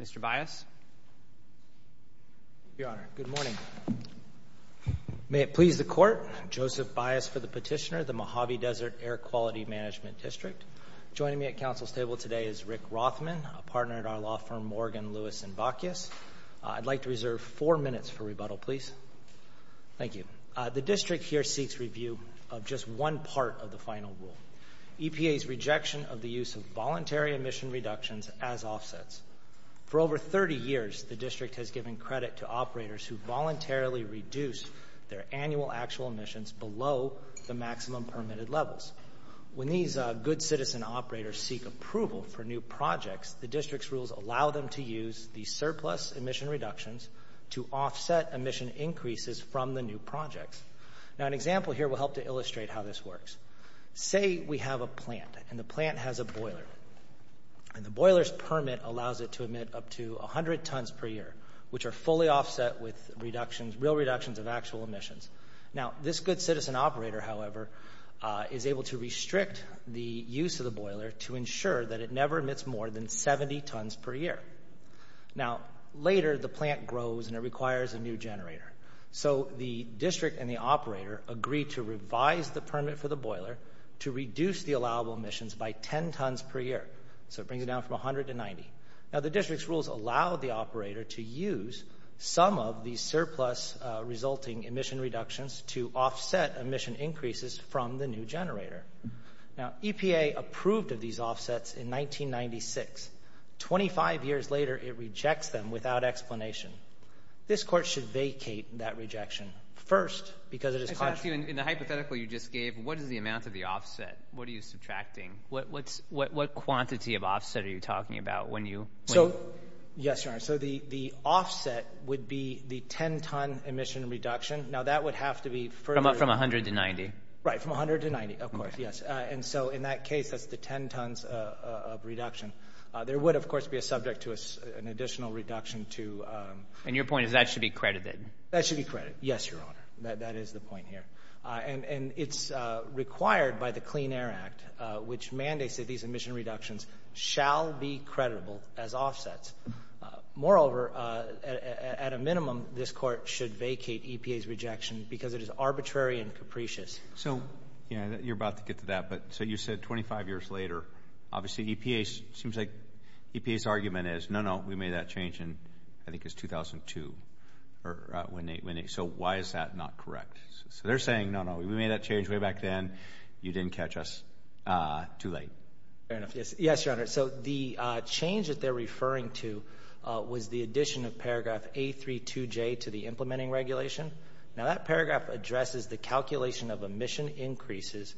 Mr. Bias? Your Honor, good morning. May it please the Court, Joseph Bias for the Petitioner, the Mojave Desert Air Quality Management District. Joining me at Council's table today is Rick Rothman, a partner at our law firm Morgan Lewis & Bacchus. I'd like to reserve four minutes for rebuttal, please. Thank you. The District here seeks review of just one part of the final rule, EPA's rejection of the use of voluntary emission reductions as offsets. For over 30 years, the District has given credit to operators who voluntarily reduce their annual actual emissions below the maximum permitted levels. When these good citizen operators seek approval for new projects, the District's rules allow them to use the surplus emission reductions to offset emission increases from the new projects. Now, an example here will help to illustrate how this works. Say we have a plant, and the plant has a boiler, and the boiler's permit allows it to emit up to 100 tons per year, which are fully offset with real reductions of actual emissions. Now, this good citizen operator, however, is able to restrict the use of the boiler to ensure that it never emits more than 70 tons per year. Now, later, the plant grows and it requires a new generator. So the District and the operator agree to revise the permit for the boiler to reduce the allowable emissions by 10 tons per year, so it brings it down from 100 to 90. Now, the District's rules allow the operator to use some of the surplus resulting emission reductions to offset emission increases from the new generator. Now, EPA approved of these offsets in 1996. Twenty-five years later, it rejects them without explanation. This court should vacate that rejection first, because it is contrary. I just want to ask you, in the hypothetical you just gave, what is the amount of the offset? What are you subtracting? What quantity of offset are you talking about when you... So, yes, Your Honor. So the offset would be the 10-ton emission reduction. Now, that would have to be further... From 100 to 90. Right, from 100 to 90, of course, yes. And so, in that case, that's the 10 tons of reduction. There would, of course, be a subject to an additional reduction to... And your point is that should be credited. That should be credited, yes, Your Honor. That is the point here. And it's required by the Clean Air Act, which mandates that these emission reductions shall be creditable as offsets. Moreover, at a minimum, this court should vacate EPA's rejection, because it is arbitrary and capricious. So, you know, you're about to get to that, but so you said 25 years later, obviously EPA... It seems like EPA's argument is, no, no, we made that change in, I think, it's 2002. So why is that not correct? So they're saying, no, no, we made that change way back then. You didn't catch us too late. Fair enough. Yes, Your Honor. So the change that they're referring to was the addition of paragraph A32J to the implementing regulation. Now, that paragraph addresses the calculation of emission increases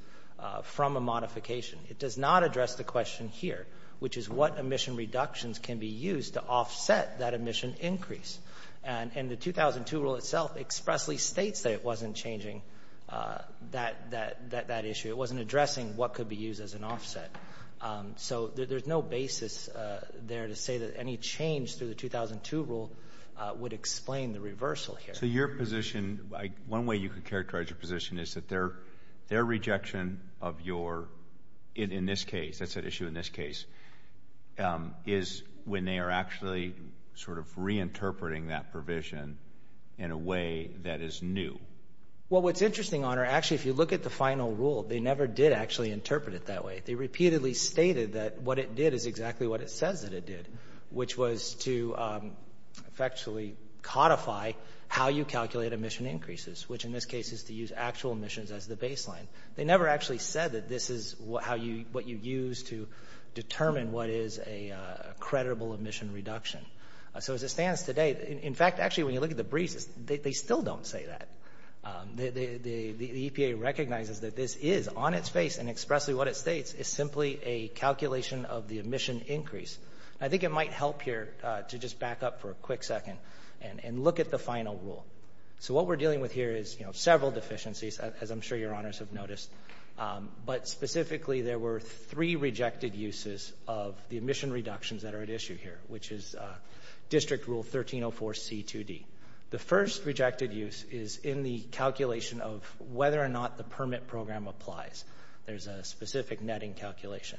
from a modification. It does not address the question here, which is what emission reductions can be used to offset that emission increase. And the 2002 rule itself expressly states that it wasn't changing that issue. It wasn't addressing what could be used as an offset. So there's no basis there to say that any change through the 2002 rule would explain the reversal here. So your position, one way you could characterize your position is that their rejection of your in this case, that's at issue in this case, is when they are actually sort of reinterpreting that provision in a way that is new. Well, what's interesting, Your Honor, actually, if you look at the final rule, they never did actually interpret it that way. They repeatedly stated that what it did is exactly what it says that it did, which was to effectually codify how you calculate emission increases, which in this case is to use actual emissions as the baseline. They never actually said that this is what you use to determine what is a credible emission reduction. So as it stands today, in fact, actually, when you look at the briefs, they still don't say that. The EPA recognizes that this is on its face and expressly what it states is simply a calculation of the emission increase. I think it might help here to just back up for a quick second and look at the final rule. So what we're dealing with here is, you know, several deficiencies, as I'm sure Your Honors have noticed, but specifically there were three rejected uses of the emission reductions that are at issue here, which is District Rule 1304C2D. The first rejected use is in the calculation of whether or not the permit program applies. There's a specific netting calculation.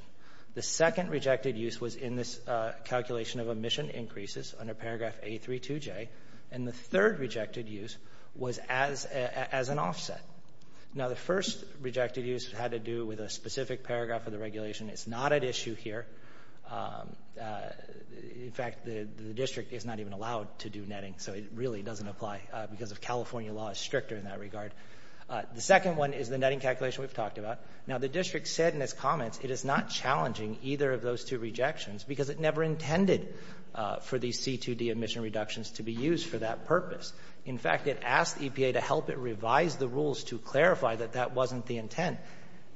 The second rejected use was in this calculation of emission increases under Paragraph A32J, and the third rejected use was as an offset. Now, the first rejected use had to do with a specific paragraph of the regulation. It's not at issue here. In fact, the District is not even allowed to do netting, so it really doesn't apply because of California law is stricter in that regard. The second one is the netting calculation we've talked about. Now, the District said in its comments it is not challenging either of those two rejections because it never intended for these C2D emission reductions to be used for that purpose. In fact, it asked EPA to help it revise the rules to clarify that that wasn't the intent,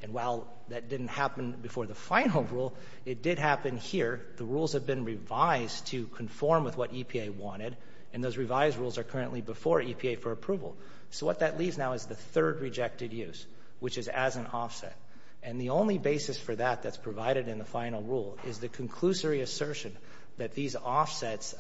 and while that didn't happen before the final rule, it did happen here. The rules have been revised to conform with what EPA wanted, and those revised rules are currently before EPA for approval. So what that leaves now is the third rejected use, which is as an offset, and the only basis for that that's provided in the final rule is the conclusory assertion that these offsets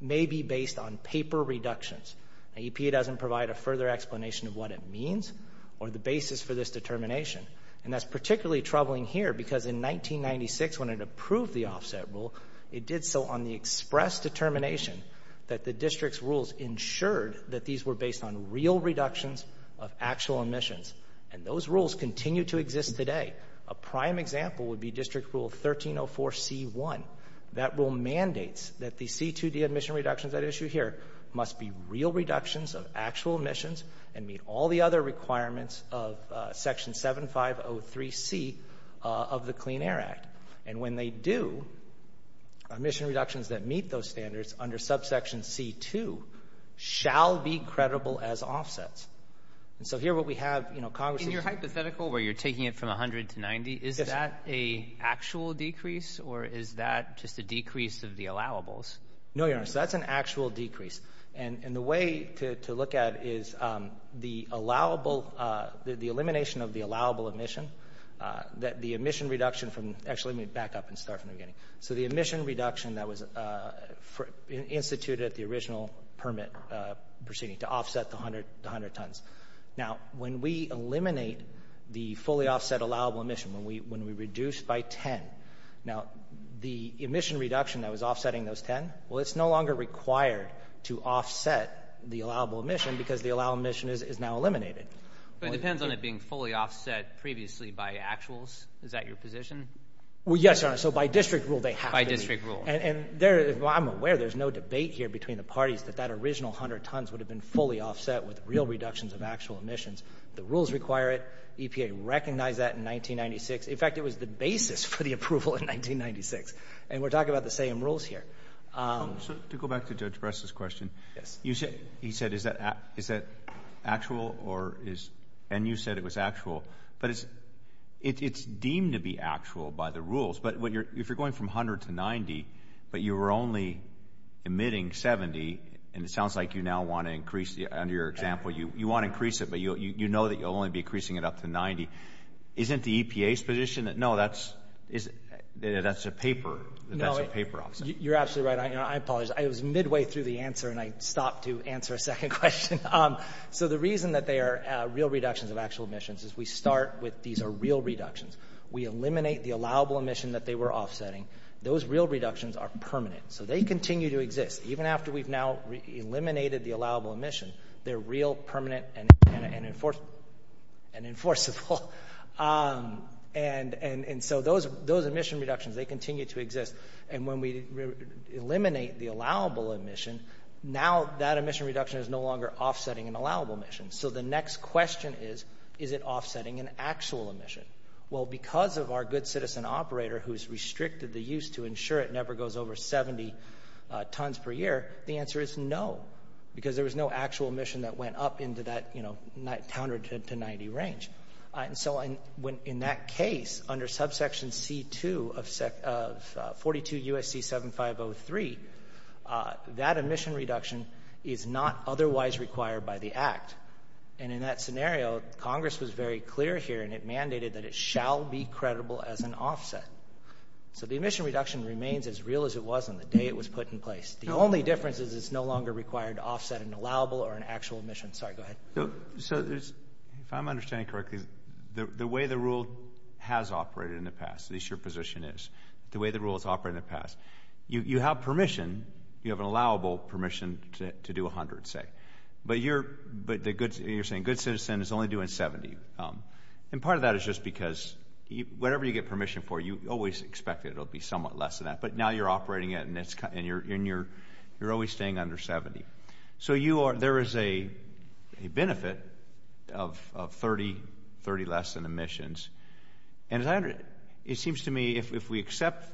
may be based on paper reductions. Now, EPA doesn't provide a further explanation of what it means or the basis for this determination, and that's particularly troubling here because in 1996, when it approved the offset rule, it did so on the express determination that the District's rules ensured that these were based on real reductions of actual emissions, and those rules continue to exist today. A prime example would be District Rule 1304C1. That rule mandates that the C2D emission reductions at issue here must be real reductions of actual emissions and meet all the other requirements of Section 7503C of the Clean Air Act, and when they do, emission reductions that meet those standards under subsection C2 shall be credible as offsets. So here what we have, you know, Congress is— In your hypothetical where you're taking it from 100 to 90, is that a actual decrease or is that just a decrease of the allowables? No, Your Honor, so that's an actual decrease, and the way to look at it is the allowable—the elimination of the allowable emission, the emission reduction from—actually, let me back up and start from the beginning. So the emission reduction that was instituted at the original permit proceeding to offset the 100 tons. Now, when we eliminate the fully offset allowable emission, when we reduce by 10, now the emission reduction that was offsetting those 10, well, it's no longer required to offset the allowable emission because the allowable emission is now eliminated. But it depends on it being fully offset previously by actuals. Is that your position? Well, yes, Your Honor, so by District Rule, they have to be— By District Rule. And I'm aware there's no debate here between the parties that that original 100 tons would have been fully offset with real reductions of actual emissions. The rules require it. EPA recognized that in 1996. In fact, it was the basis for the approval in 1996, and we're talking about the same rules here. So to go back to Judge Preston's question, you said—he said, is that actual or is—and you said it was actual, but it's deemed to be actual by the rules. But if you're going from 100 to 90 but you were only emitting 70, and it sounds like you now want to increase the—under your example, you want to increase it, but you know that you'll only be increasing it up to 90. Isn't the EPA's position that no, that's—that's a paper—that that's a paper offset? You're absolutely right, Your Honor. I apologize. I was midway through the answer, and I stopped to answer a second question. So the reason that they are real reductions of actual emissions is we start with these are real reductions. We eliminate the allowable emission that they were offsetting. Those real reductions are permanent. So they continue to exist. Even after we've now eliminated the allowable emission, they're real, permanent, and enforceable. And so those emission reductions, they continue to exist. And when we eliminate the allowable emission, now that emission reduction is no longer offsetting an allowable emission. So the next question is, is it offsetting an actual emission? Well, because of our good citizen operator who's restricted the use to ensure it never goes over 70 tons per year, the answer is no. Because there was no actual emission that went up into that, you know, 100 to 90 range. And so in that case, under subsection C-2 of 42 U.S.C. 7503, that emission reduction is not otherwise required by the Act. And in that scenario, Congress was very clear here, and it mandated that it shall be credible as an offset. So the emission reduction remains as real as it was on the day it was put in place. The only difference is it's no longer required to offset an allowable or an actual emission. Sorry, go ahead. So if I'm understanding correctly, the way the rule has operated in the past, at least your position is, the way the rule has operated in the past, you have permission, you have an allowable permission to do 100, say. But you're saying good citizen is only doing 70. And part of that is just because whatever you get permission for, you always expect it will be somewhat less than that. But now you're operating it, and you're always staying under 70. So there is a benefit of 30 less than emissions. And it seems to me, if we accept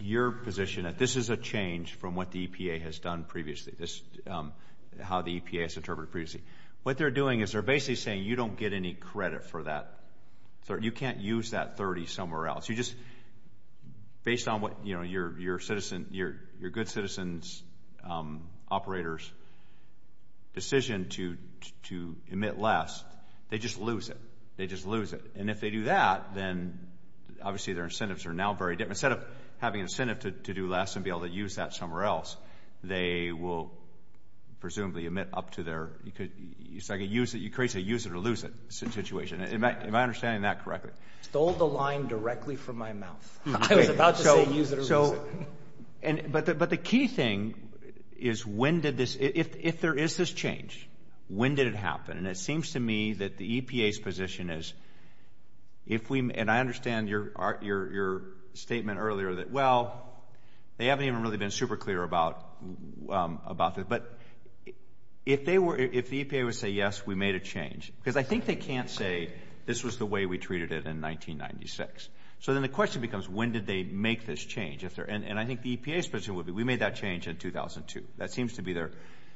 your position that this is a change from what the EPA has done previously, how the EPA has interpreted it previously, what they're doing is they're basically saying you don't get any credit for that. You can't use that 30 somewhere else. Based on what your good citizen's operator's decision to emit less, they just lose it. They just lose it. And if they do that, then obviously their incentives are now very different. Instead of having an incentive to do less and be able to use that somewhere else, they will presumably emit up to their – you create a use it or lose it situation. Am I understanding that correctly? You stole the line directly from my mouth. I was about to say use it or lose it. But the key thing is when did this – if there is this change, when did it happen? And it seems to me that the EPA's position is if we – and I understand your statement earlier that, well, they haven't even really been super clear about this. But if they were – if the EPA would say, yes, we made a change – because I think they can't say this was the way we treated it in 1996. So then the question becomes when did they make this change? And I think the EPA's position would be we made that change in 2002. That seems to be their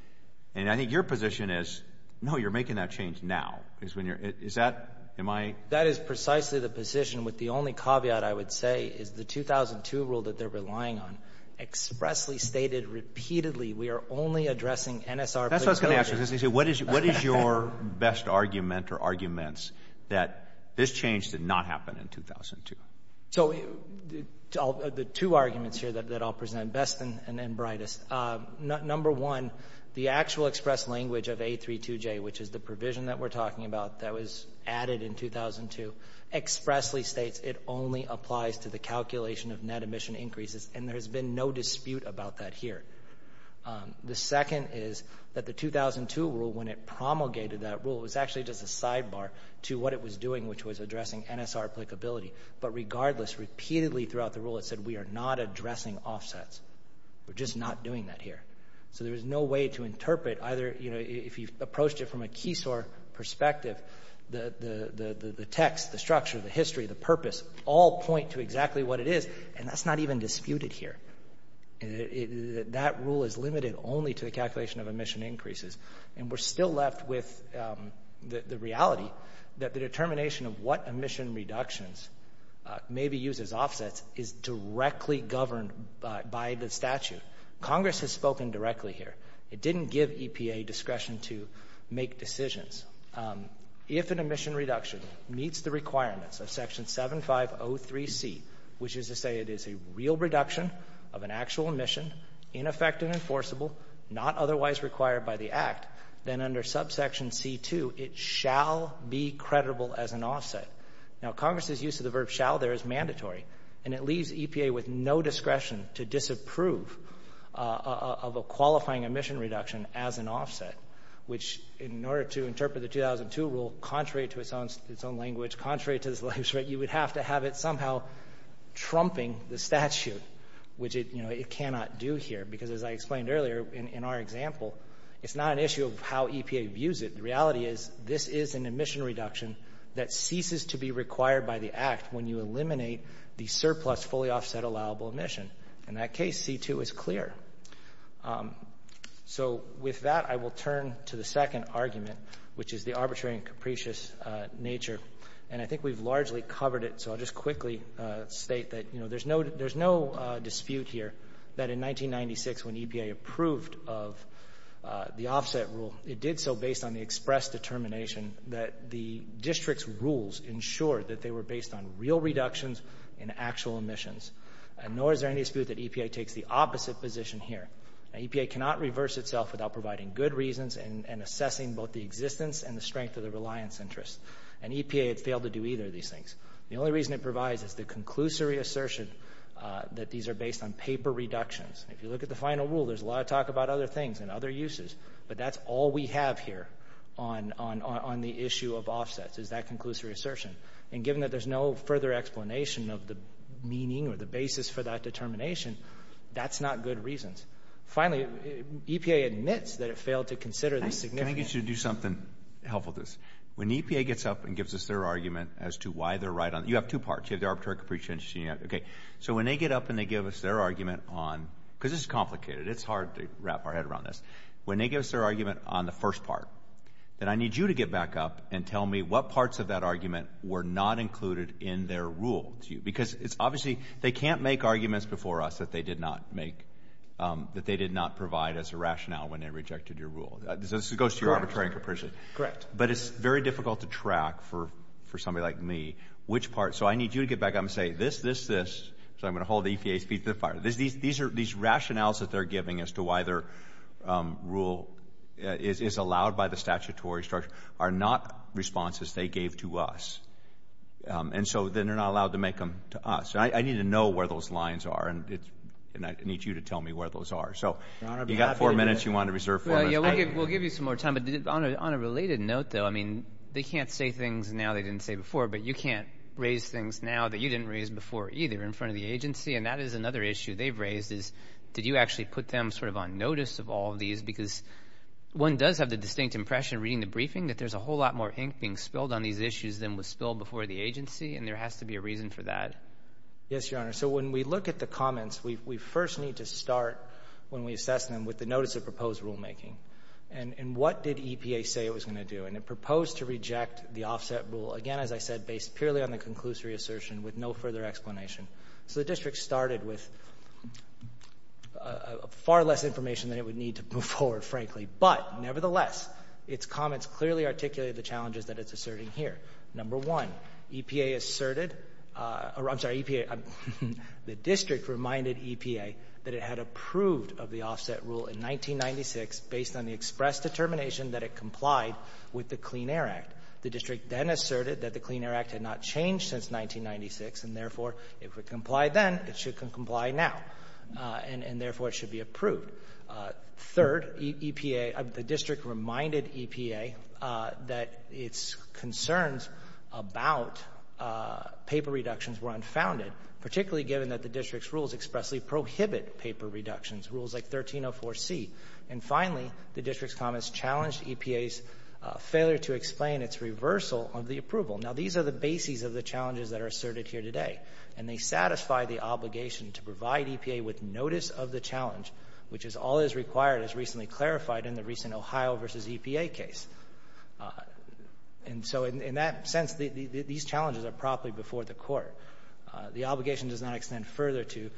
– and I think your position is, no, you're making that change now. Is that – am I – That is precisely the position with the only caveat, I would say, is the 2002 rule that they're relying on expressly stated repeatedly we are only addressing NSR – That's what I was going to ask you. What is your best argument or arguments that this change did not happen in 2002? So the two arguments here that I'll present, best and brightest, number one, the actual express language of A32J, which is the provision that we're talking about that was added in 2002, expressly states it only applies to the calculation of net emission increases, and there's been no dispute about that here. The second is that the 2002 rule, when it promulgated that rule, it was actually just a sidebar to what it was doing, which was addressing NSR applicability. But regardless, repeatedly throughout the rule it said we are not addressing offsets. We're just not doing that here. So there is no way to interpret either – if you approached it from a Keysore perspective, the text, the structure, the history, the purpose, all point to exactly what it is, and that's not even disputed here. That rule is limited only to the calculation of emission increases, and we're still left with the reality that the determination of what emission reductions may be used as offsets is directly governed by the statute. Congress has spoken directly here. It didn't give EPA discretion to make decisions. If an emission reduction meets the requirements of Section 7503C, which is to say it is a real reduction of an actual emission, ineffective and enforceable, not otherwise required by the Act, then under subsection C2 it shall be creditable as an offset. Now, Congress's use of the verb shall there is mandatory, and it leaves EPA with no discretion to disapprove of a qualifying emission reduction as an offset, which in order to interpret the 2002 rule, contrary to its own language, contrary to this legislature, you would have to have it somehow trumping the statute, which it cannot do here, because as I explained earlier in our example, it's not an issue of how EPA views it. The reality is this is an emission reduction that ceases to be required by the Act when you eliminate the surplus fully offset allowable emission. In that case, C2 is clear. So with that, I will turn to the second argument, which is the arbitrary and capricious nature, and I think we've largely covered it, so I'll just quickly state that, you know, there's no dispute here that in 1996 when EPA approved of the offset rule, it did so based on the reductions in actual emissions, and nor is there any dispute that EPA takes the opposite position here. Now, EPA cannot reverse itself without providing good reasons and assessing both the existence and the strength of the reliance interest, and EPA had failed to do either of these things. The only reason it provides is the conclusory assertion that these are based on paper reductions. If you look at the final rule, there's a lot of talk about other things and other uses, but that's all we have here on the issue of offsets is that conclusory assertion, and assuming that there's no further explanation of the meaning or the basis for that determination, that's not good reasons. Finally, EPA admits that it failed to consider the significance. Can I get you to do something helpful with this? When EPA gets up and gives us their argument as to why they're right on, you have two parts, you have the arbitrary and capricious nature, and you have, okay, so when they get up and they give us their argument on, because this is complicated, it's hard to wrap our head around this, when they give us their argument on the first part, then I need you to get back up and tell me what parts of that argument were not included in their rule to you, because it's obviously, they can't make arguments before us that they did not make, that they did not provide as a rationale when they rejected your rule. This goes to your arbitrary and capricious. Correct. But it's very difficult to track, for somebody like me, which part, so I need you to get back up and say this, this, this, so I'm going to hold the EPA's feet to the fire. These rationales that they're giving as to why their rule is allowed by the statutory structure are not responses they gave to us, and so then they're not allowed to make them to us. I need to know where those lines are, and I need you to tell me where those are. So you've got four minutes, you want to reserve four minutes. Yeah, we'll give you some more time, but on a related note, though, I mean, they can't say things now they didn't say before, but you can't raise things now that you didn't raise before, either, in front of the agency, and that is another issue they've raised, is did you actually put them sort of on notice of all of these, because one does have the distinct impression, reading the briefing, that there's a whole lot more ink being spilled on these issues than was spilled before the agency, and there has to be a reason for that. Yes, Your Honor, so when we look at the comments, we first need to start, when we assess them, with the notice of proposed rulemaking, and what did EPA say it was going to do, and it proposed to reject the offset rule, again, as I said, based purely on the conclusory assertion with no further explanation, so the district started with far less information than it would need to move forward, frankly, but nevertheless, its comments clearly articulate the challenges that it's asserting here. Number one, EPA asserted, or I'm sorry, EPA, the district reminded EPA that it had approved of the offset rule in 1996 based on the express determination that it complied with the Clean Air Act. The district then asserted that the Clean Air Act had not changed since 1996, and therefore, if it complied then, it should comply now, and therefore, it should be approved. Third, EPA, the district reminded EPA that its concerns about paper reductions were unfounded, particularly given that the district's rules expressly prohibit paper reductions, rules like 1304C, and finally, the district's comments challenged EPA's failure to explain its reversal of the approval. Now, these are the bases of the challenges that are asserted here today, and they satisfy the obligation to provide EPA with notice of the challenge, which is all is required, as recently clarified in the recent Ohio versus EPA case, and so in that sense, these challenges are properly before the court. The obligation does not extend further to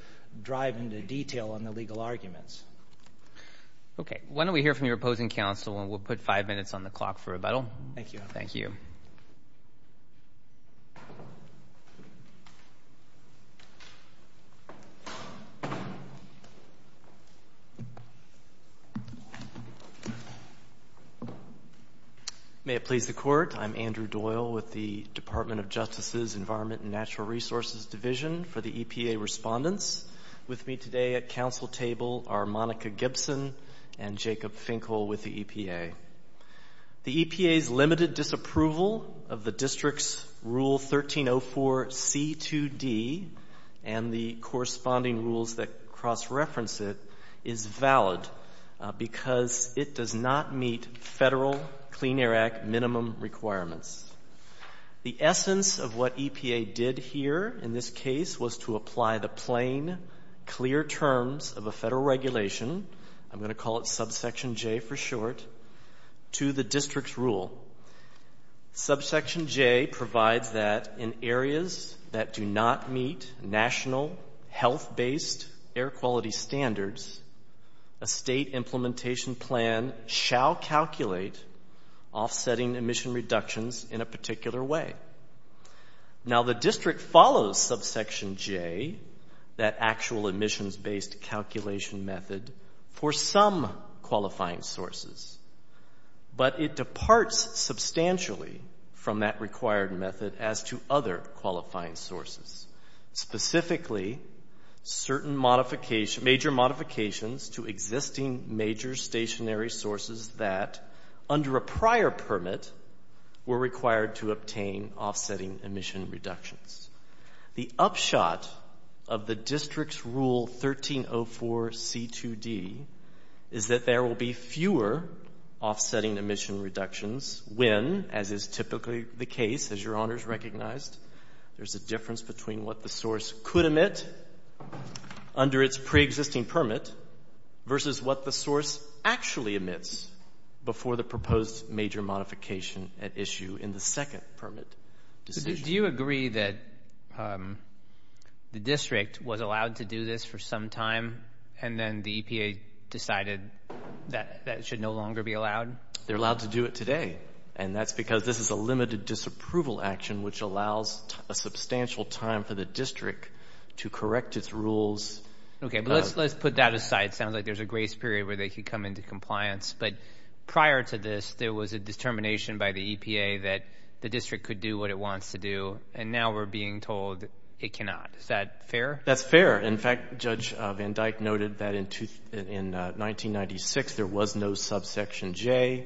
drive into detail on the legal arguments. Okay. Why don't we hear from your opposing counsel, and we'll put five minutes on the clock for Thank you. Thank you. May it please the court, I'm Andrew Doyle with the Department of Justice's Environment and Natural Resources Division for the EPA Respondents. With me today at counsel table are Monica Gibson and Jacob Finkel with the EPA. The EPA's limited disapproval of the district's rule 1304C2D and the corresponding rules that cross-reference it is valid because it does not meet federal Clean Air Act minimum requirements. The essence of what EPA did here in this case was to apply the plain, clear terms of a federal regulation, I'm going to call it subsection J for short, to the district's rule. Subsection J provides that in areas that do not meet national health-based air quality standards, a state implementation plan shall calculate offsetting emission reductions in a particular way. Now, the district follows subsection J, that actual emissions-based calculation method, for some qualifying sources, but it departs substantially from that required method as to other qualifying sources, specifically certain major modifications to existing major stationary sources that, under a prior permit, were required to obtain offsetting emission reductions. The upshot of the district's rule 1304C2D is that there will be fewer offsetting emission reductions when, as is typically the case, as Your Honors recognized, there's a difference between what the source could emit under its pre-existing permit versus what the source actually emits before the proposed major modification at issue in the second permit decision. Do you agree that the district was allowed to do this for some time and then the EPA decided that it should no longer be allowed? They're allowed to do it today, and that's because this is a limited disapproval action which allows a substantial time for the district to correct its rules. Okay. But let's put that aside. It sounds like there's a grace period where they could come into compliance, but prior to this, there was a determination by the EPA that the district could do what it wants to do, and now we're being told it cannot. Is that fair? That's fair. In fact, Judge Van Dyke noted that in 1996, there was no subsection J.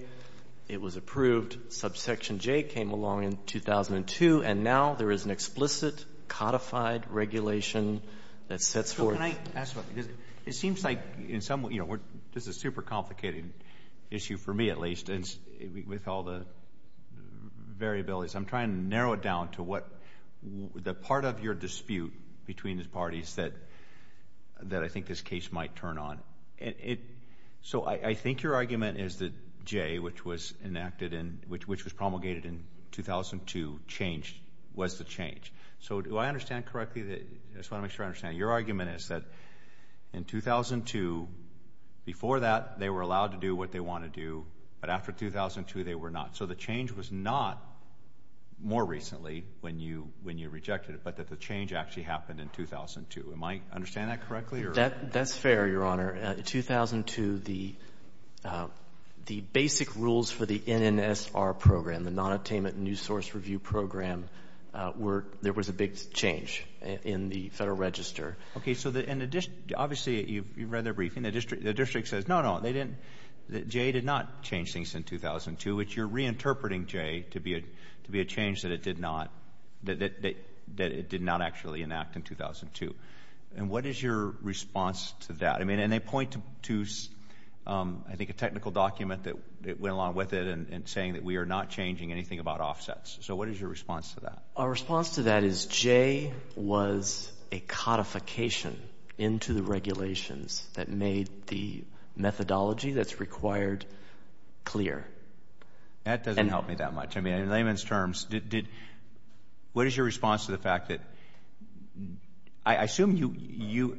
It was approved. Subsection J came along in 2002, and now there is an explicit codified regulation that sets forth Can I ask something? It seems like in some way, you know, this is a super complicated issue for me, at least, with all the variabilities. I'm trying to narrow it down to what the part of your dispute between the parties that I think this case might turn on. So I think your argument is that J, which was enacted and which was promulgated in 2002, changed, was the change. So do I understand correctly? I just want to make sure I understand. Your argument is that in 2002, before that, they were allowed to do what they want to do, but after 2002, they were not. So the change was not more recently when you rejected it, but that the change actually happened in 2002. Am I understanding that correctly? That's fair, Your Honor. In 2002, the basic rules for the NNSR program, the Nonattainment News Source Review program, there was a big change in the Federal Register. Okay. So obviously, you read their briefing. The district says, no, no, J did not change things in 2002, which you're reinterpreting J to be a change that it did not actually enact in 2002. And what is your response to that? I mean, and they point to, I think, a technical document that went along with it and saying that we are not changing anything about offsets. So what is your response to that? Our response to that is J was a codification into the regulations that made the methodology that's required clear. That doesn't help me that much. I mean, in layman's terms, what is your response to the fact that, I assume you,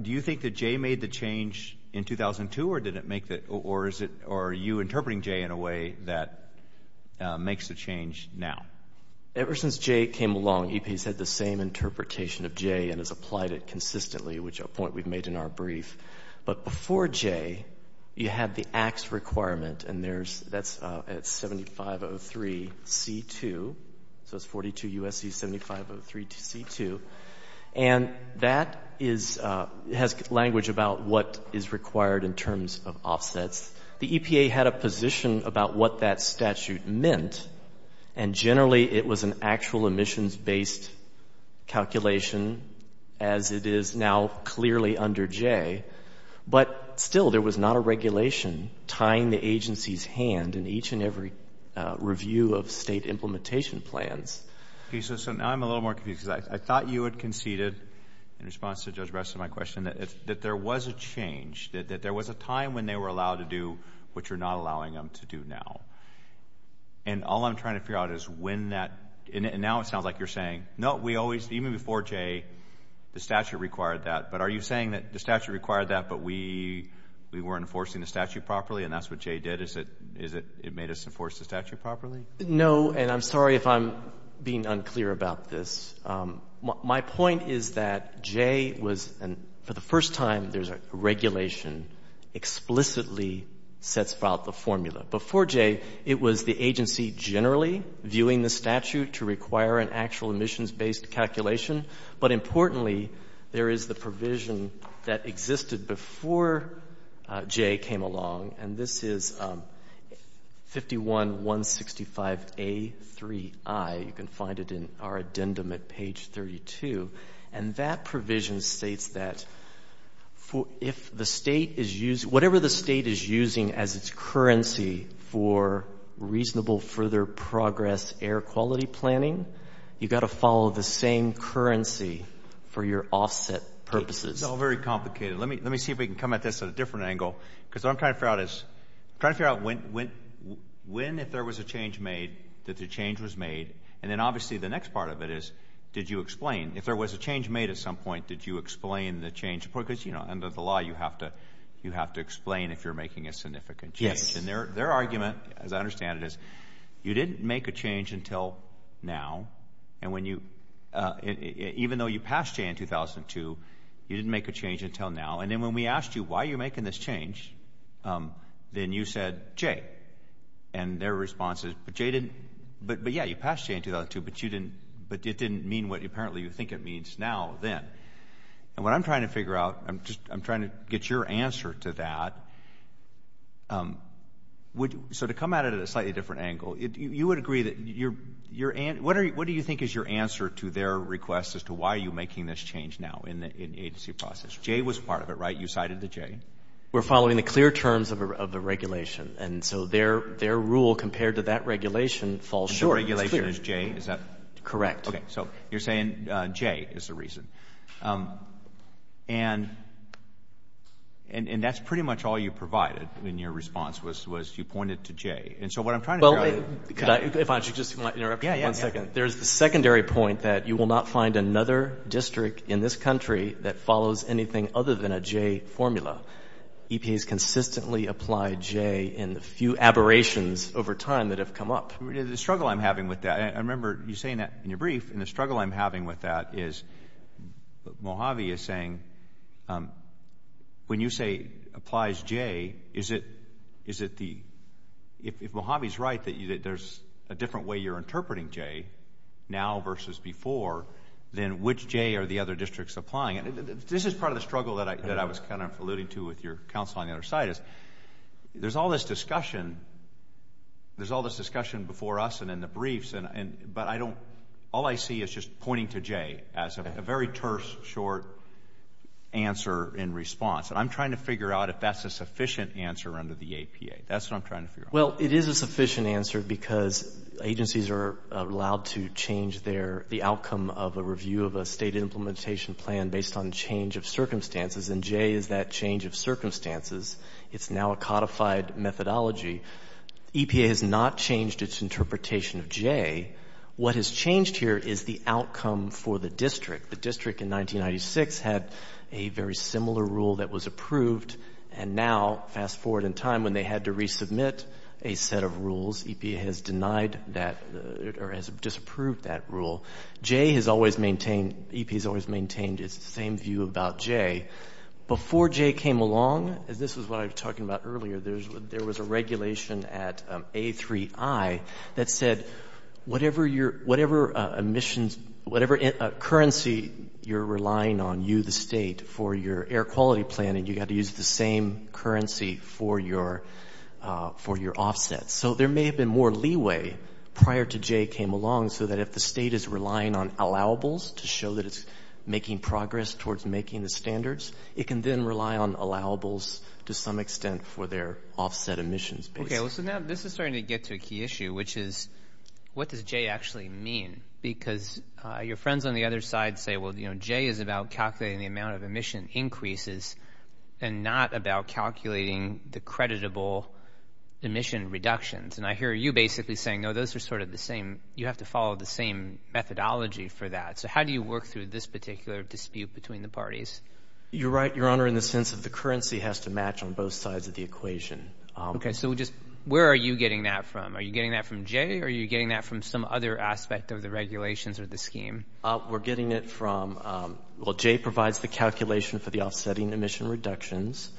do you think that J made the change in 2002 or did it make the, or is it, or are you interpreting J in a way that makes the change now? Ever since J came along, EPA has had the same interpretation of J and has applied it consistently, which a point we've made in our brief. But before J, you had the AXE requirement and there's, that's at 7503C2, so it's 42 USC 7503C2, and that is, has language about what is required in terms of offsets. The EPA had a position about what that statute meant and generally it was an actual emissions-based calculation as it is now clearly under J, but still there was not a regulation tying the agency's hand in each and every review of state implementation plans. Okay, so now I'm a little more confused because I thought you had conceded, in response to Judge Breslin, my question, that there was a change, that there was a time when they were allowed to do what you're not allowing them to do now. And all I'm trying to figure out is when that, and now it sounds like you're saying, no, we always, even before J, the statute required that. But are you saying that the statute required that but we, we weren't enforcing the statute properly and that's what J did, is it, is it, it made us enforce the statute properly? No, and I'm sorry if I'm being unclear about this. My point is that J was, for the first time, there's a regulation explicitly sets out the formula. Before J, it was the agency generally viewing the statute to require an actual emissions-based calculation, but importantly, there is the provision that existed before J came along and this is 51-165A3I, you can find it in our addendum at page 32, and that provision states that if the state is using, whatever the state is using as its currency for reasonable further progress air quality planning, you've got to follow the same currency for your offset purposes. It's all very complicated. Let me, let me see if we can come at this at a different angle, because what I'm trying to figure out is, trying to figure out when, when, when if there was a change made, that the change was made, and then obviously the next part of it is, did you explain? If there was a change made at some point, did you explain the change? Because, you know, under the law, you have to, you have to explain if you're making a significant change. Yes. And their, their argument, as I understand it, is you didn't make a change until now, and when you, even though you passed J in 2002, you didn't make a change until now, and then when we asked you, why are you making this change, then you said J, and their response is, but J didn't, but, but yeah, you passed J in 2002, but you didn't, but it didn't mean what apparently you think it means now, then, and what I'm trying to figure out, I'm just, I'm trying to get your answer to that, would, so to come at it at a slightly different angle, you would agree that your, your, what are you, what do you think is your answer to their request as to why are you making this change now in the, in the agency process? J was part of it, right? You cited the J. We're following the clear terms of a, of the regulation, and so their, their rule compared to that regulation falls short. Sure. The regulation is J, is that? Correct. So, you're saying J is the reason, and, and, and that's pretty much all you provided in your response was, was you pointed to J, and so what I'm trying to figure out is. Well, could I, if I could just interrupt you for one second. Yeah, yeah, yeah. There's the secondary point that you will not find another district in this country that follows anything other than a J formula. EPAs consistently apply J in the few aberrations over time that have come up. The struggle I'm having with that, I remember you saying that in your brief, and the struggle I'm having with that is Mojave is saying when you say applies J, is it, is it the, if Mojave's right that there's a different way you're interpreting J now versus before, then which J are the other districts applying? This is part of the struggle that I, that I was kind of alluding to with your counsel on the other side is there's all this discussion, there's all this discussion before us and in the briefs, and, and, but I don't, all I see is just pointing to J as a very terse short answer in response, and I'm trying to figure out if that's a sufficient answer under the APA. That's what I'm trying to figure out. Well, it is a sufficient answer because agencies are allowed to change their, the outcome of a review of a state implementation plan based on change of circumstances, and J is that change of circumstances. It's now a codified methodology. EPA has not changed its interpretation of J. What has changed here is the outcome for the district. The district in 1996 had a very similar rule that was approved, and now, fast forward in time when they had to resubmit a set of rules, EPA has denied that, or has disapproved that rule. J has always maintained, EPA has always maintained its same view about J. Before J came along, as this is what I was talking about earlier, there was a regulation at A3I that said whatever your, whatever emissions, whatever currency you're relying on, you, the state, for your air quality plan, and you've got to use the same currency for your, for your offset. So there may have been more leeway prior to J came along so that if the state is relying on allowables to show that it's making progress towards making the standards, it can then rely on allowables to some extent for their offset emissions. Okay. Well, so now this is starting to get to a key issue, which is what does J actually mean? Because your friends on the other side say, well, you know, J is about calculating the amount of emission increases and not about calculating the creditable emission reductions. And I hear you basically saying, no, those are sort of the same. You have to follow the same methodology for that. So how do you work through this particular dispute between the parties? You're right, Your Honor, in the sense of the currency has to match on both sides of the equation. Okay. So we just, where are you getting that from? Are you getting that from J or are you getting that from some other aspect of the regulations or the scheme? We're getting it from, well, J provides the calculation for the offsetting emission reductions.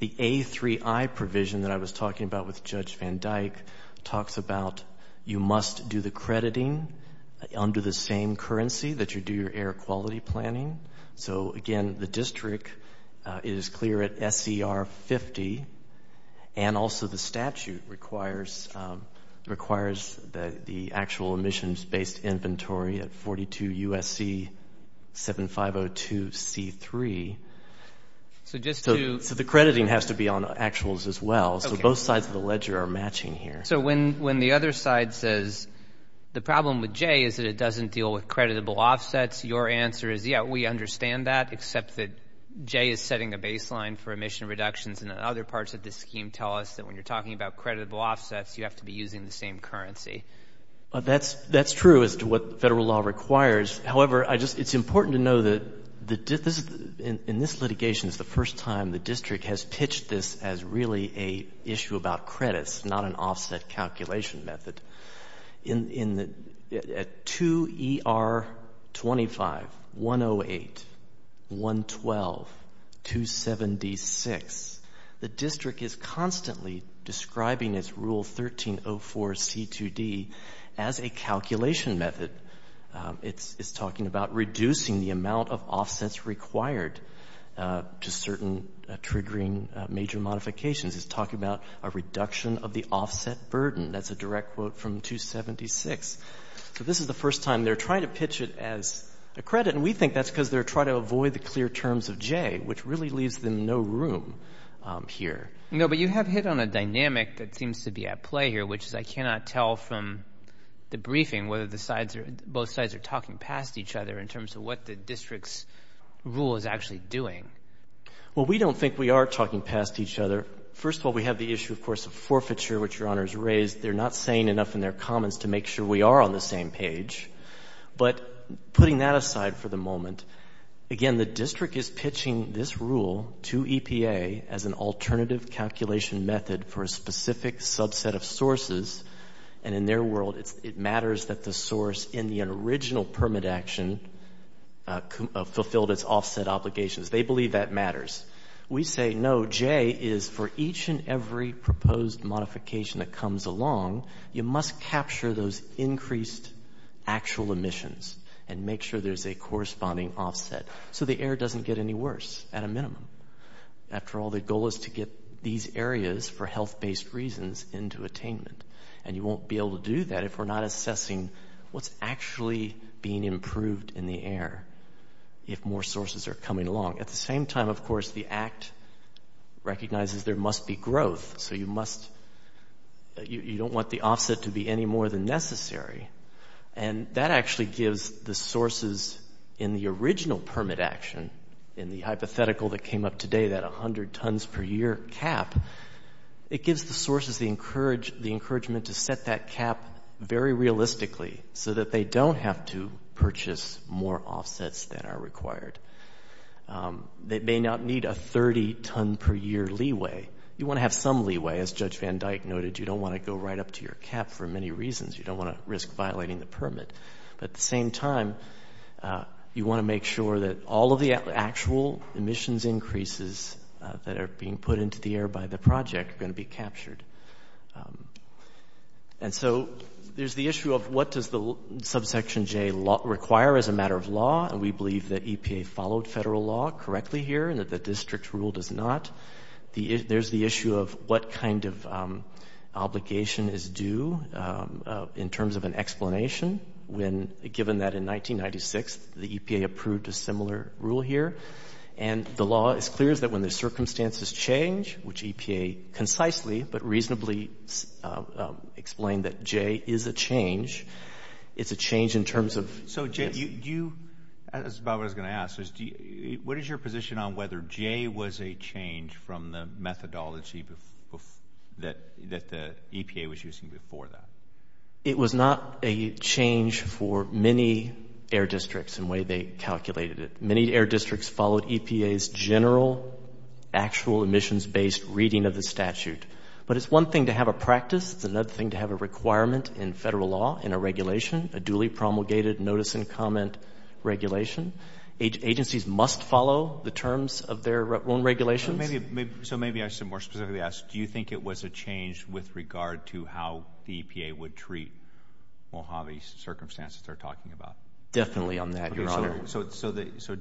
The A3I provision that I was talking about with Judge Van Dyke talks about you must do the crediting under the same currency that you do your air quality planning. So again, the district is clear at SCR 50 and also the statute requires the actual emissions based inventory at 42 USC 7502 C3. So just to... So the crediting has to be on actuals as well, so both sides of the ledger are matching here. So when the other side says the problem with J is that it doesn't deal with creditable offsets, your answer is, yeah, we understand that except that J is setting a baseline for emission reductions and other parts of the scheme tell us that when you're talking about creditable offsets, you have to be using the same currency. That's true as to what federal law requires. However, it's important to know that in this litigation, it's the first time the district has pitched this as really an issue about credits, not an offset calculation method. In the 2 ER 25, 108, 112, 276, the district is constantly describing its rule 1304 C2D as a calculation method. It's talking about reducing the amount of offsets required to certain triggering major modifications. It's talking about a reduction of the offset burden. That's a direct quote from 276. So this is the first time they're trying to pitch it as a credit, and we think that's because they're trying to avoid the clear terms of J, which really leaves them no room here. No, but you have hit on a dynamic that seems to be at play here, which is I cannot tell from the briefing whether the sides are, both sides are talking past each other in terms of what the district's rule is actually doing. Well, we don't think we are talking past each other. First of all, we have the issue, of course, of forfeiture, which Your Honor has raised. They're not saying enough in their comments to make sure we are on the same page. But putting that aside for the moment, again, the district is pitching this rule to EPA as an alternative calculation method for a specific subset of sources, and in their world, it matters that the source in the original permit action fulfilled its offset obligations. They believe that matters. We say no. J is for each and every proposed modification that comes along, you must capture those increased actual emissions and make sure there's a corresponding offset, so the air doesn't get any worse at a minimum. After all, the goal is to get these areas, for health-based reasons, into attainment, and you won't be able to do that if we're not assessing what's actually being improved in the air if more sources are coming along. At the same time, of course, the Act recognizes there must be growth, so you don't want the offset to be any more than necessary, and that actually gives the sources in the original permit action, in the hypothetical that came up today, that 100 tons per year cap, it gives the sources the encouragement to set that cap very realistically so that they don't have to purchase more offsets than are required. They may not need a 30 ton per year leeway. You want to have some leeway, as Judge Van Dyke noted. You don't want to go right up to your cap for many reasons. You don't want to risk violating the permit, but at the same time, you want to make sure that all of the actual emissions increases that are being put into the air by the project are going to be captured. And so, there's the issue of what does the subsection J require as a matter of law, and we believe that EPA followed federal law correctly here and that the district rule does not. There's the issue of what kind of obligation is due in terms of an explanation when, given that in 1996, the EPA approved a similar rule here, and the law is clear that when the circumstances change, which EPA concisely but reasonably explained that J is a change, it's a change in terms of... So, Jay, do you... that's about what I was going to ask, is what is your position on whether J was a change from the methodology that the EPA was using before that? It was not a change for many air districts in the way they calculated it. Many air districts followed EPA's general, actual emissions-based reading of the statute, but it's one thing to have a practice, it's another thing to have a requirement in federal law and a regulation, a duly promulgated notice and comment regulation. Agencies must follow the terms of their own regulations. So, maybe I should more specifically ask, do you think it was a change with regard to how the EPA would treat Mojave's circumstances they're talking about? Definitely on that, Your Honor. So,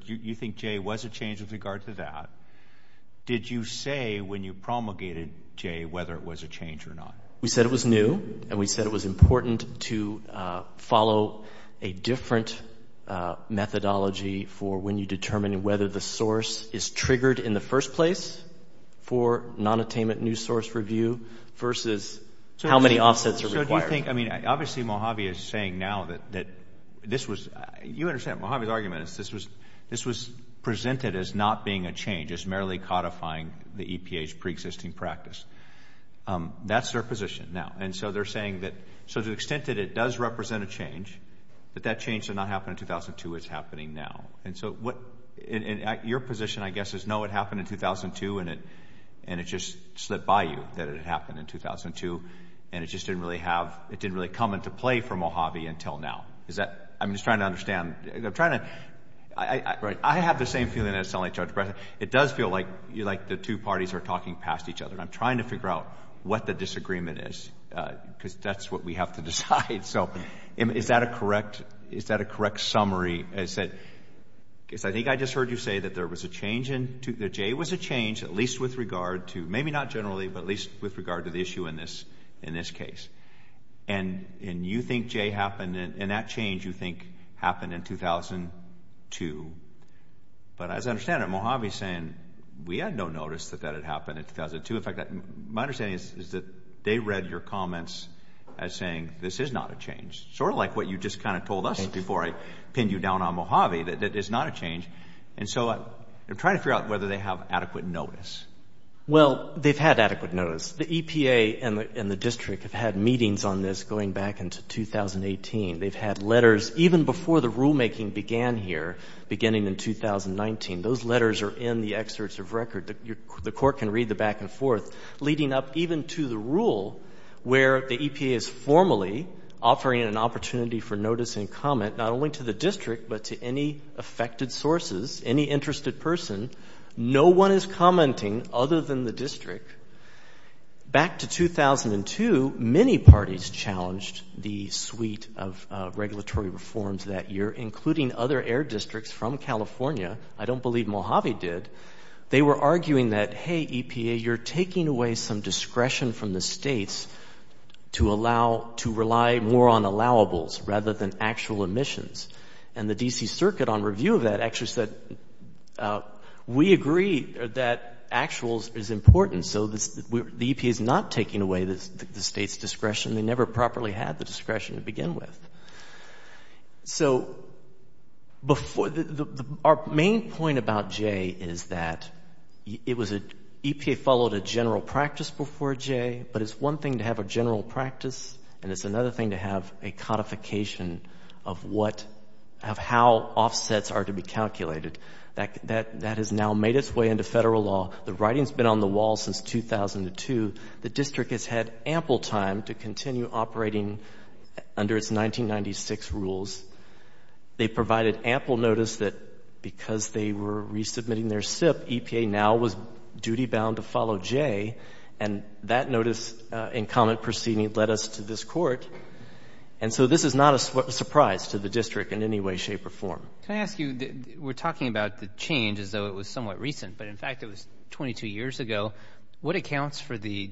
you think J was a change with regard to that. Did you say when you promulgated J whether it was a change or not? We said it was new, and we said it was important to follow a different methodology for when you determine whether the source is triggered in the first place for nonattainment new source review versus how many offsets are required. So, do you think... I mean, obviously, Mojave is saying now that this was... you understand, Mojave's argument is this was presented as not being a change, as merely codifying the EPA's preexisting practice. That's their position now. And so, they're saying that to the extent that it does represent a change, that that change did not happen in 2002, it's happening now. And so, what... your position, I guess, is no, it happened in 2002, and it just slipped by you that it happened in 2002, and it just didn't really have... it didn't really come into play for Mojave until now. Is that... I'm just trying to understand. I'm trying to... I have the same feeling, and it doesn't sound like Judge Breyer. It does feel like the two parties are talking past each other, and I'm trying to figure out what the disagreement is, because that's what we have to decide. So, is that a correct summary, is that... because I think I just heard you say that there was a change in... that J was a change, at least with regard to... maybe not generally, but at least with regard to the issue in this case, and you think J happened in... and that change, you think, happened in 2002. But as I understand it, Mojave's saying, we had no notice that that had happened in 2002. In fact, my understanding is that they read your comments as saying, this is not a change, sort of like what you just kind of told us before I pinned you down on Mojave, that it is not a change. And so, I'm trying to figure out whether they have adequate notice. Well, they've had adequate notice. The EPA and the district have had meetings on this going back into 2018. They've had letters even before the rulemaking began here, beginning in 2019. Those letters are in the excerpts of record. The court can read the back and forth, leading up even to the rule where the EPA is formally offering an opportunity for notice and comment, not only to the district, but to any affected sources, any interested person. No one is commenting other than the district. Back to 2002, many parties challenged the suite of regulatory reforms that year, including other air districts from California. I don't believe Mojave did. They were arguing that, hey, EPA, you're taking away some discretion from the states to allow, to rely more on allowables rather than actual emissions. And the D.C. Circuit, on review of that, actually said, we agree that actuals is important. The EPA is not taking away the state's discretion. They never properly had the discretion to begin with. So our main point about J is that EPA followed a general practice before J, but it's one thing to have a general practice, and it's another thing to have a codification of how offsets are to be calculated. That has now made its way into federal law. The writing's been on the wall since 2002. The district has had ample time to continue operating under its 1996 rules. They provided ample notice that because they were resubmitting their SIP, EPA now was duty-bound to follow J, and that notice and comment proceeding led us to this Court. And so this is not a surprise to the district in any way, shape, or form. Can I ask you, we're talking about the change as though it was somewhat recent, but in fact it was 22 years ago. What accounts for the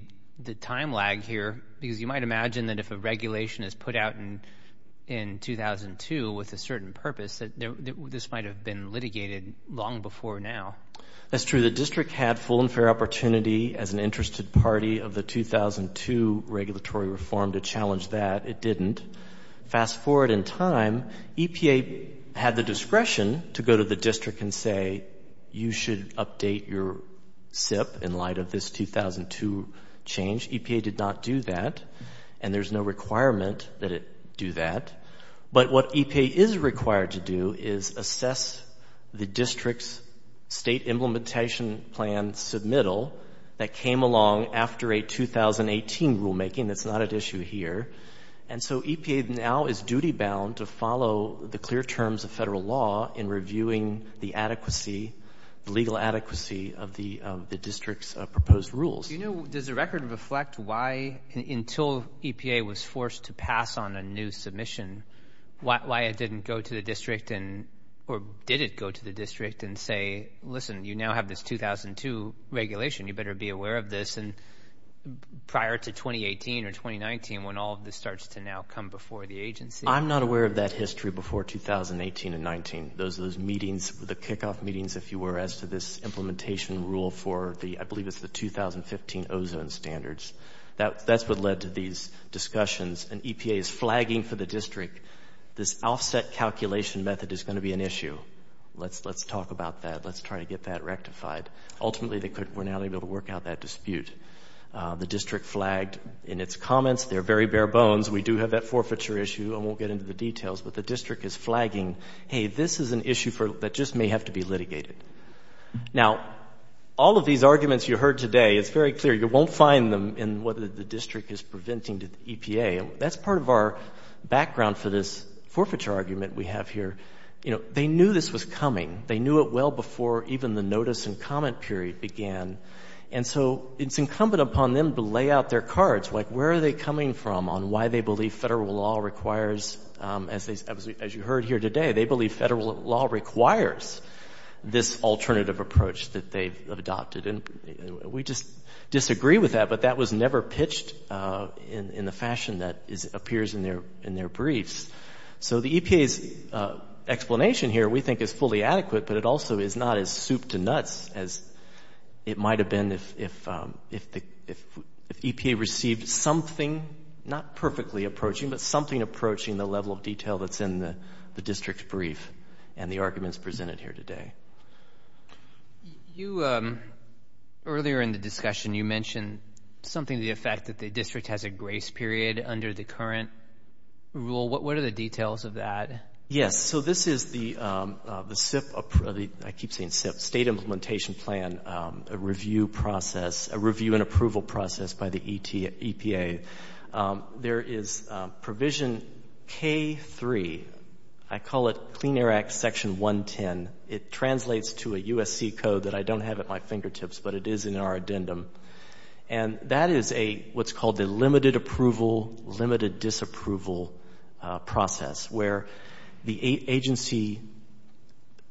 time lag here, because you might imagine that if a regulation is put out in 2002 with a certain purpose, that this might have been litigated long before now. That's true. The district had full and fair opportunity as an interested party of the 2002 regulatory reform to challenge that. It didn't. Fast forward in time, EPA had the discretion to go to the district and say, you should update your SIP in light of this 2002 change. EPA did not do that, and there's no requirement that it do that. But what EPA is required to do is assess the district's state implementation plan submittal that came along after a 2018 rulemaking. That's not at issue here. And so EPA now is duty-bound to follow the clear terms of federal law in reviewing the adequacy, the legal adequacy of the district's proposed rules. You know, does the record reflect why, until EPA was forced to pass on a new submission, why it didn't go to the district and, or did it go to the district and say, listen, you now have this 2002 regulation, you better be aware of this, and prior to 2018 or 2019, when all of this starts to now come before the agency? I'm not aware of that history before 2018 and 19. Those are those meetings, the kickoff meetings, if you were, as to this implementation rule for the, I believe it's the 2015 ozone standards. That's what led to these discussions, and EPA is flagging for the district, this offset calculation method is going to be an issue. Let's talk about that. Let's try to get that rectified. Ultimately, they couldn't, we're not able to work out that dispute. The district flagged in its comments, they're very bare bones, we do have that forfeiture issue, I won't get into the details, but the district is flagging, hey, this is an issue that just may have to be litigated. Now, all of these arguments you heard today, it's very clear, you won't find them in whether the district is preventing the EPA. That's part of our background for this forfeiture argument we have here. You know, they knew this was coming. They knew it well before even the notice and comment period began, and so it's incumbent upon them to lay out their cards, like where are they coming from on why they believe federal law requires, as you heard here today, they believe federal law requires this alternative approach that they've adopted. We just disagree with that, but that was never pitched in the fashion that appears in their briefs. So the EPA's explanation here, we think, is fully adequate, but it also is not as soup to nuts as it might have been if EPA received something, not perfectly approaching, but something approaching the level of detail that's in the district's brief and the arguments presented here today. You, earlier in the discussion, you mentioned something to the effect that the district has a grace period under the current rule. What are the details of that? Yes, so this is the SIPP, I keep saying SIPP, State Implementation Plan, a review process, a review and approval process by the EPA. There is provision K3, I call it Clean Air Act Section 110. It translates to a USC code that I don't have at my fingertips, but it is in our addendum, and that is what's called a limited approval, limited disapproval process, where the agency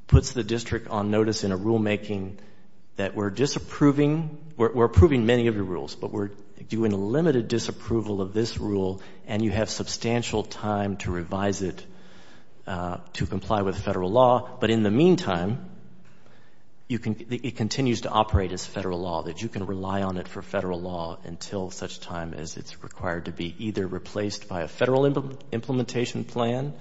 puts the district on notice in a rulemaking that we're disapproving, we're approving many of the rules, but we're doing a limited disapproval of this rule, and you have substantial time to revise it to comply with federal law, but in the meantime, it continues to operate as federal law, that you can rely on it for federal law until such time as it's required to be either replaced by a federal implementation plan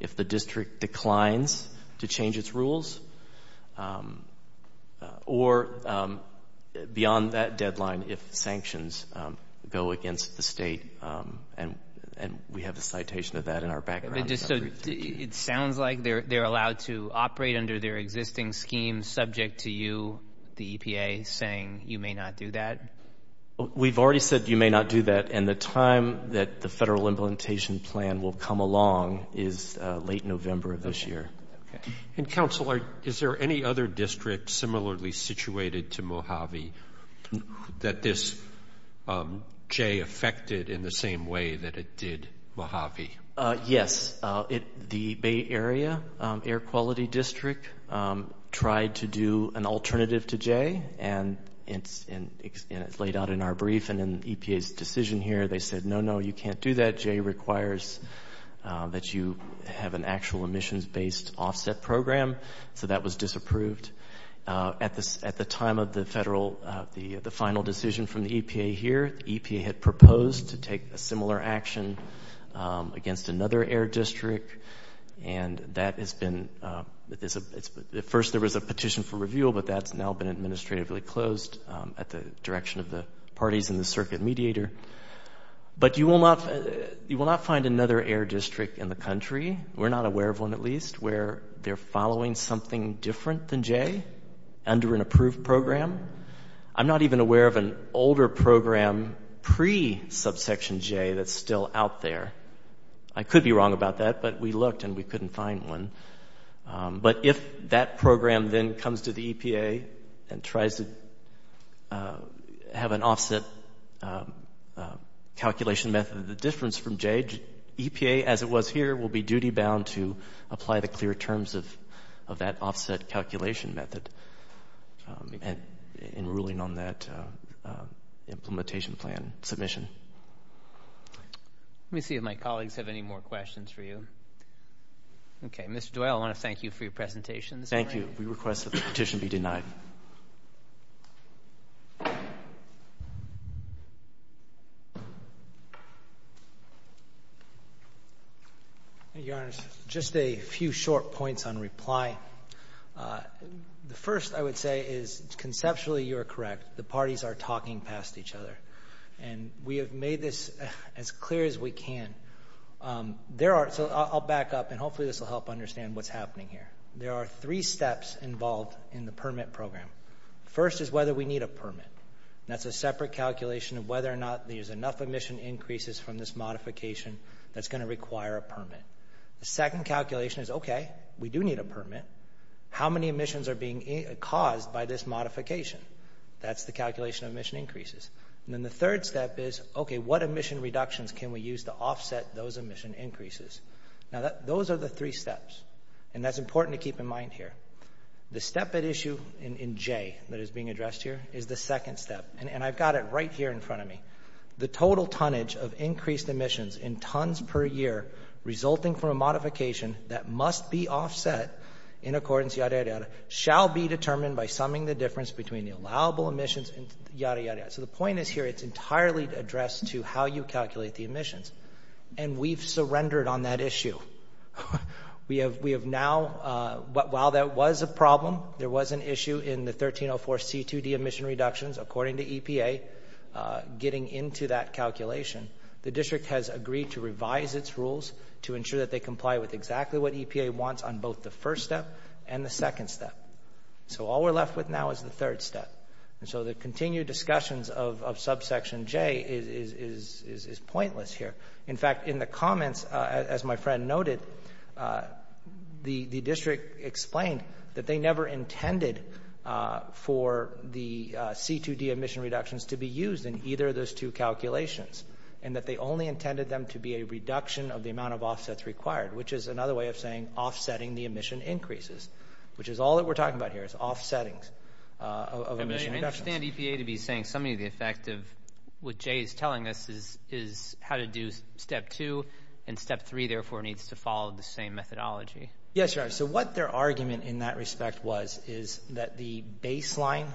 if the district declines to change its rules or beyond that deadline if sanctions go against the state, and we have a citation of that in our background. But just so, it sounds like they're allowed to operate under their existing scheme subject to you, the EPA, saying you may not do that? We've already said you may not do that, and the time that the federal implementation plan will come along is late November of this year. And Counselor, is there any other district similarly situated to Mojave that this J affected in the same way that it did Mojave? Yes, the Bay Area Air Quality District tried to do an alternative to J, and it's laid out in our brief, and in EPA's decision here, they said, no, no, you can't do that, J requires that you have an actual emissions-based offset program, so that was disapproved. At the time of the federal, the final decision from the EPA here, EPA had proposed to take a similar action against another air district, and that has been, at first there was a petition for review, but that's now been administratively closed at the direction of the parties in the circuit mediator. But you will not find another air district in the country, we're not aware of one at least, where they're following something different than J under an approved program. I'm not even aware of an older program pre-Subsection J that's still out there. I could be wrong about that, but we looked and we couldn't find one. But if that program then comes to the EPA and tries to have an offset calculation method, the difference from J, EPA, as it was here, will be duty-bound to apply the clear terms of that offset calculation method in ruling on that implementation plan submission. Let me see if my colleagues have any more questions for you. Okay, Mr. Doyle, I want to thank you for your presentation this morning. Thank you. We request that the petition be denied. Thank you, Your Honor. Just a few short points on reply. The first, I would say, is conceptually you are correct. The parties are talking past each other. And we have made this as clear as we can. There are, so I'll back up and hopefully this will help understand what's happening here. There are three steps involved in the permit program. First is whether we need a permit. That's a separate calculation of whether or not there's enough emission increases from this modification that's going to require a permit. The second calculation is, okay, we do need a permit. How many emissions are being caused by this modification? That's the calculation of emission increases. And then the third step is, okay, what emission reductions can we use to offset those emission increases? Now, those are the three steps. And that's important to keep in mind here. The step at issue in J that is being addressed here is the second step. And I've got it right here in front of me. The total tonnage of increased emissions in tons per year resulting from a modification that must be offset in accordance, yada, yada, yada, shall be determined by summing the difference between the allowable emissions and yada, yada, yada. So the point is here, it's entirely addressed to how you calculate the emissions. And we've surrendered on that issue. We have now, while that was a problem, there was an issue in the 1304 C2D emission reductions, according to EPA, getting into that calculation. The district has agreed to revise its rules to ensure that they comply with exactly what EPA wants on both the first step and the second step. So all we're left with now is the third step. And so the continued discussions of subsection J is pointless here. In fact, in the comments, as my friend noted, the district explained that they never intended for the C2D emission reductions to be used in either of those two calculations. And that they only intended them to be a reduction of the amount of offsets required. Which is another way of saying offsetting the emission increases. Which is all that we're talking about here, is offsetting of emission reductions. I understand EPA to be saying some of the effect of what J is telling us is how to do step two, and step three, therefore, needs to follow the same methodology. Yes, you are. So what their argument in that respect was is that the baseline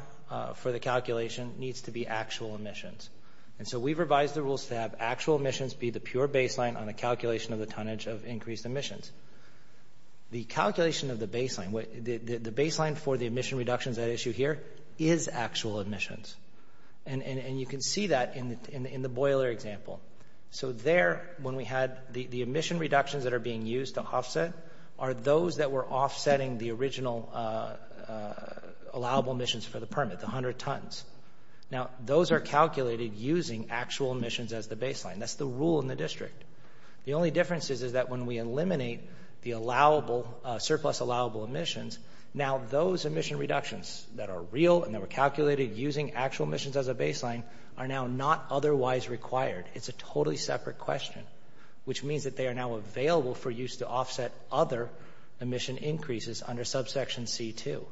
for the calculation needs to be actual emissions. And so we've revised the rules to have actual emissions be the pure baseline on a calculation of the tonnage of increased emissions. The calculation of the baseline, the baseline for the emission reductions at issue here is actual emissions. And you can see that in the boiler example. So there, when we had the emission reductions that are being used to offset, are those that were offsetting the original allowable emissions for the permit, the 100 tons. Now those are calculated using actual emissions as the baseline. That's the rule in the district. The only difference is that when we eliminate the allowable, surplus allowable emissions, now those emission reductions that are real and that were calculated using actual emissions as a baseline are now not otherwise required. It's a totally separate question, which means that they are now available for use to offset other emission increases under subsection C2.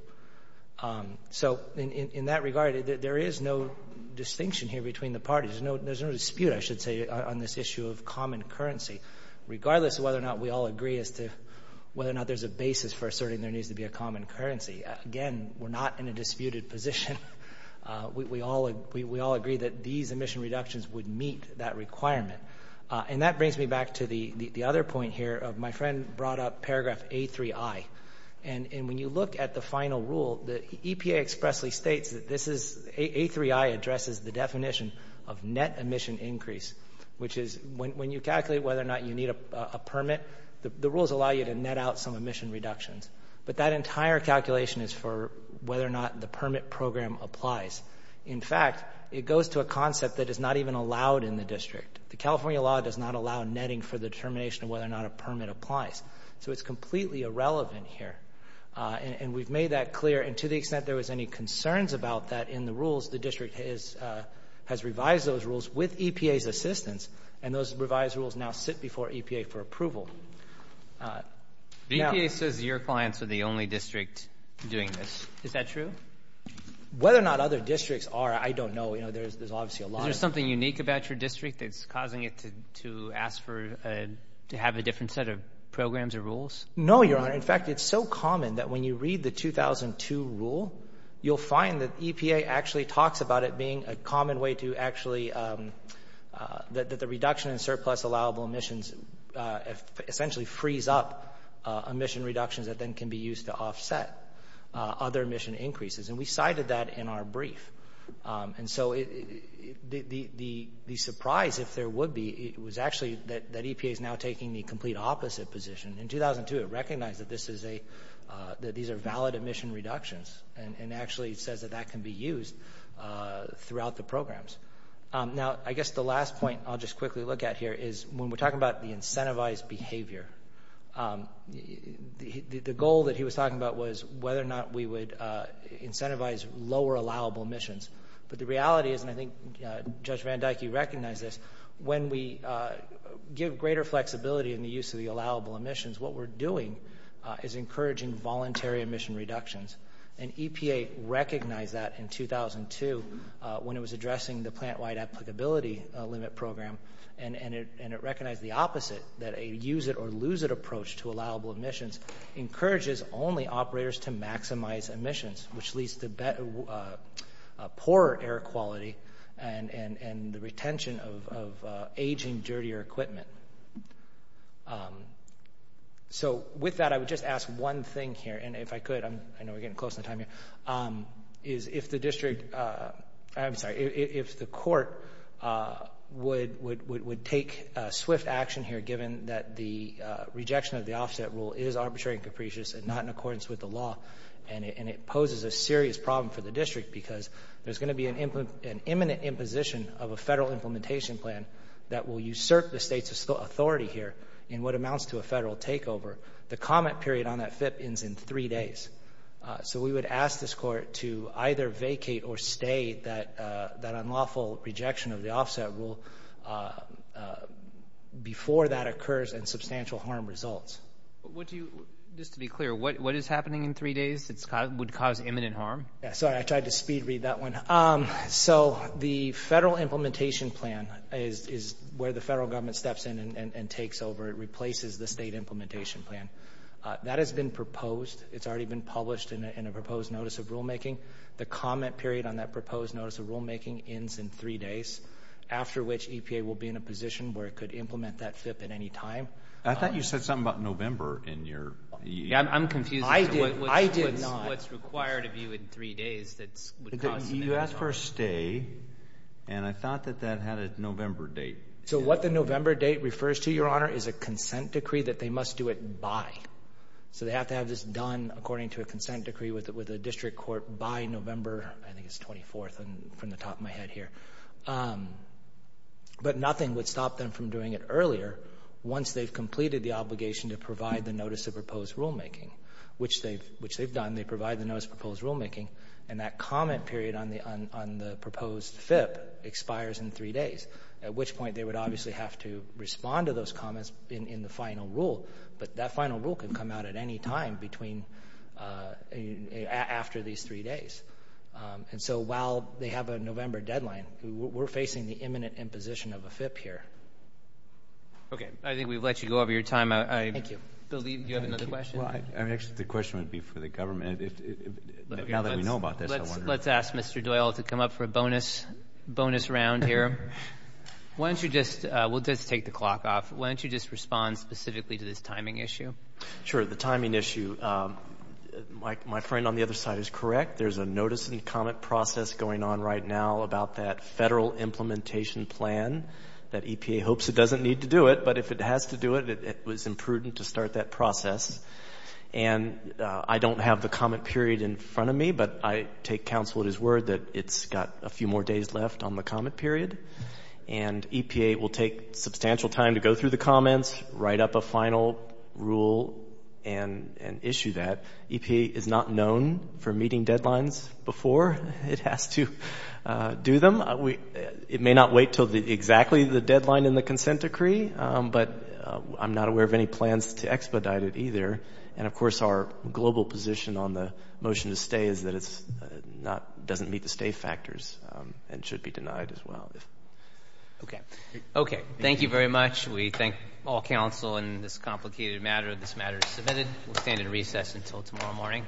So in that regard, there is no distinction here between the parties. There's no dispute, I should say, on this issue of common currency, regardless of whether or not we all agree as to whether or not there's a basis for asserting there needs to be a common currency. Again, we're not in a disputed position. We all agree that these emission reductions would meet that requirement. And that brings me back to the other point here of my friend brought up paragraph A3i. And when you look at the final rule, the EPA expressly states that this is, A3i addresses the definition of net emission increase, which is when you calculate whether or not you need a permit, the rules allow you to net out some emission reductions. But that entire calculation is for whether or not the permit program applies. In fact, it goes to a concept that is not even allowed in the district. The California law does not allow netting for the determination of whether or not a permit applies. So it's completely irrelevant here. And we've made that clear. And to the extent there was any concerns about that in the rules, the district has revised those rules with EPA's assistance. And those revised rules now sit before EPA for approval. EPA says your clients are the only district doing this. Is that true? Whether or not other districts are, I don't know. You know, there's obviously a lot. Is there something unique about your district that's causing it to ask for, to have a different set of programs or rules? No, Your Honor. In fact, it's so common that when you read the 2002 rule, you'll find that EPA actually talks about it being a common way to actually, that the reduction in surplus allowable emissions essentially frees up emission reductions that then can be used to offset other emission increases. And we cited that in our brief. And so the surprise, if there would be, it was actually that EPA is now taking the complete opposite position. In 2002, it recognized that this is a, that these are valid emission reductions and actually says that that can be used throughout the programs. Now, I guess the last point I'll just quickly look at here is when we're talking about the incentivized behavior, the goal that he was talking about was whether or not we would incentivize lower allowable emissions. But the reality is, and I think Judge Van Dyke, you recognize this, when we give greater flexibility in the use of the allowable emissions, what we're doing is encouraging voluntary emission reductions. And EPA recognized that in 2002 when it was addressing the plant-wide applicability limit program. And it recognized the opposite, that a use-it-or-lose-it approach to allowable emissions encourages only operators to maximize emissions, which leads to poorer air quality and the retention of aging, dirtier equipment. So with that, I would just ask one thing here. And if I could, I know we're getting close to the time here, is if the district, I'm sorry, if the court would take swift action here given that the rejection of the offset rule is arbitrary and capricious and not in accordance with the law, and it poses a serious problem for the district because there's going to be an imminent imposition of a federal implementation plan that will usurp the state's authority here in what amounts to a federal takeover, the comment period on that FIP ends in three days. So we would ask this court to either vacate or stay that unlawful rejection of the offset rule before that occurs and substantial harm results. What do you, just to be clear, what is happening in three days that would cause imminent harm? Sorry, I tried to speed read that one. So the federal implementation plan is where the federal government steps in and takes over and replaces the state implementation plan. That has been proposed. It's already been published in a proposed notice of rulemaking. The comment period on that proposed notice of rulemaking ends in three days, after which EPA will be in a position where it could implement that FIP at any time. I thought you said something about November in your... I'm confused. I did not. What's required of you in three days that would cause imminent harm. You asked for a stay, and I thought that that had a November date. So what the November date refers to, Your Honor, is a consent decree that they must do it by. So they have to have this done according to a consent decree with a district court by November, I think it's 24th from the top of my head here. But nothing would stop them from doing it earlier once they've completed the obligation to provide the notice of proposed rulemaking, which they've done. They provide the notice of proposed rulemaking, and that comment period on the proposed FIP expires in three days, at which point they would obviously have to respond to those comments in the final rule. But that final rule can come out at any time after these three days. And so while they have a November deadline, we're facing the imminent imposition of a FIP here. Okay. I think we've let you go over your time. Thank you. Bill, do you have another question? Well, I mean, actually, the question would be for the government. Now that we know about this, I wonder... I'm going to ask Mr. Doyle to come up for a bonus round here. Why don't you just... We'll just take the clock off. Why don't you just respond specifically to this timing issue? Sure. The timing issue. My friend on the other side is correct. There's a notice and comment process going on right now about that federal implementation plan that EPA hopes it doesn't need to do it, but if it has to do it, it was imprudent to start that process. And I don't have the comment period in front of me, but I take counsel at his word that it's got a few more days left on the comment period, and EPA will take substantial time to go through the comments, write up a final rule, and issue that. EPA is not known for meeting deadlines before it has to do them. It may not wait until exactly the deadline in the consent decree, but I'm not aware of any plans to expedite it either. And of course, our global position on the motion to stay is that it doesn't meet the stay factors and should be denied as well. Okay. Okay. Thank you very much. We thank all counsel in this complicated matter. This matter is submitted. We'll stand in recess until tomorrow morning.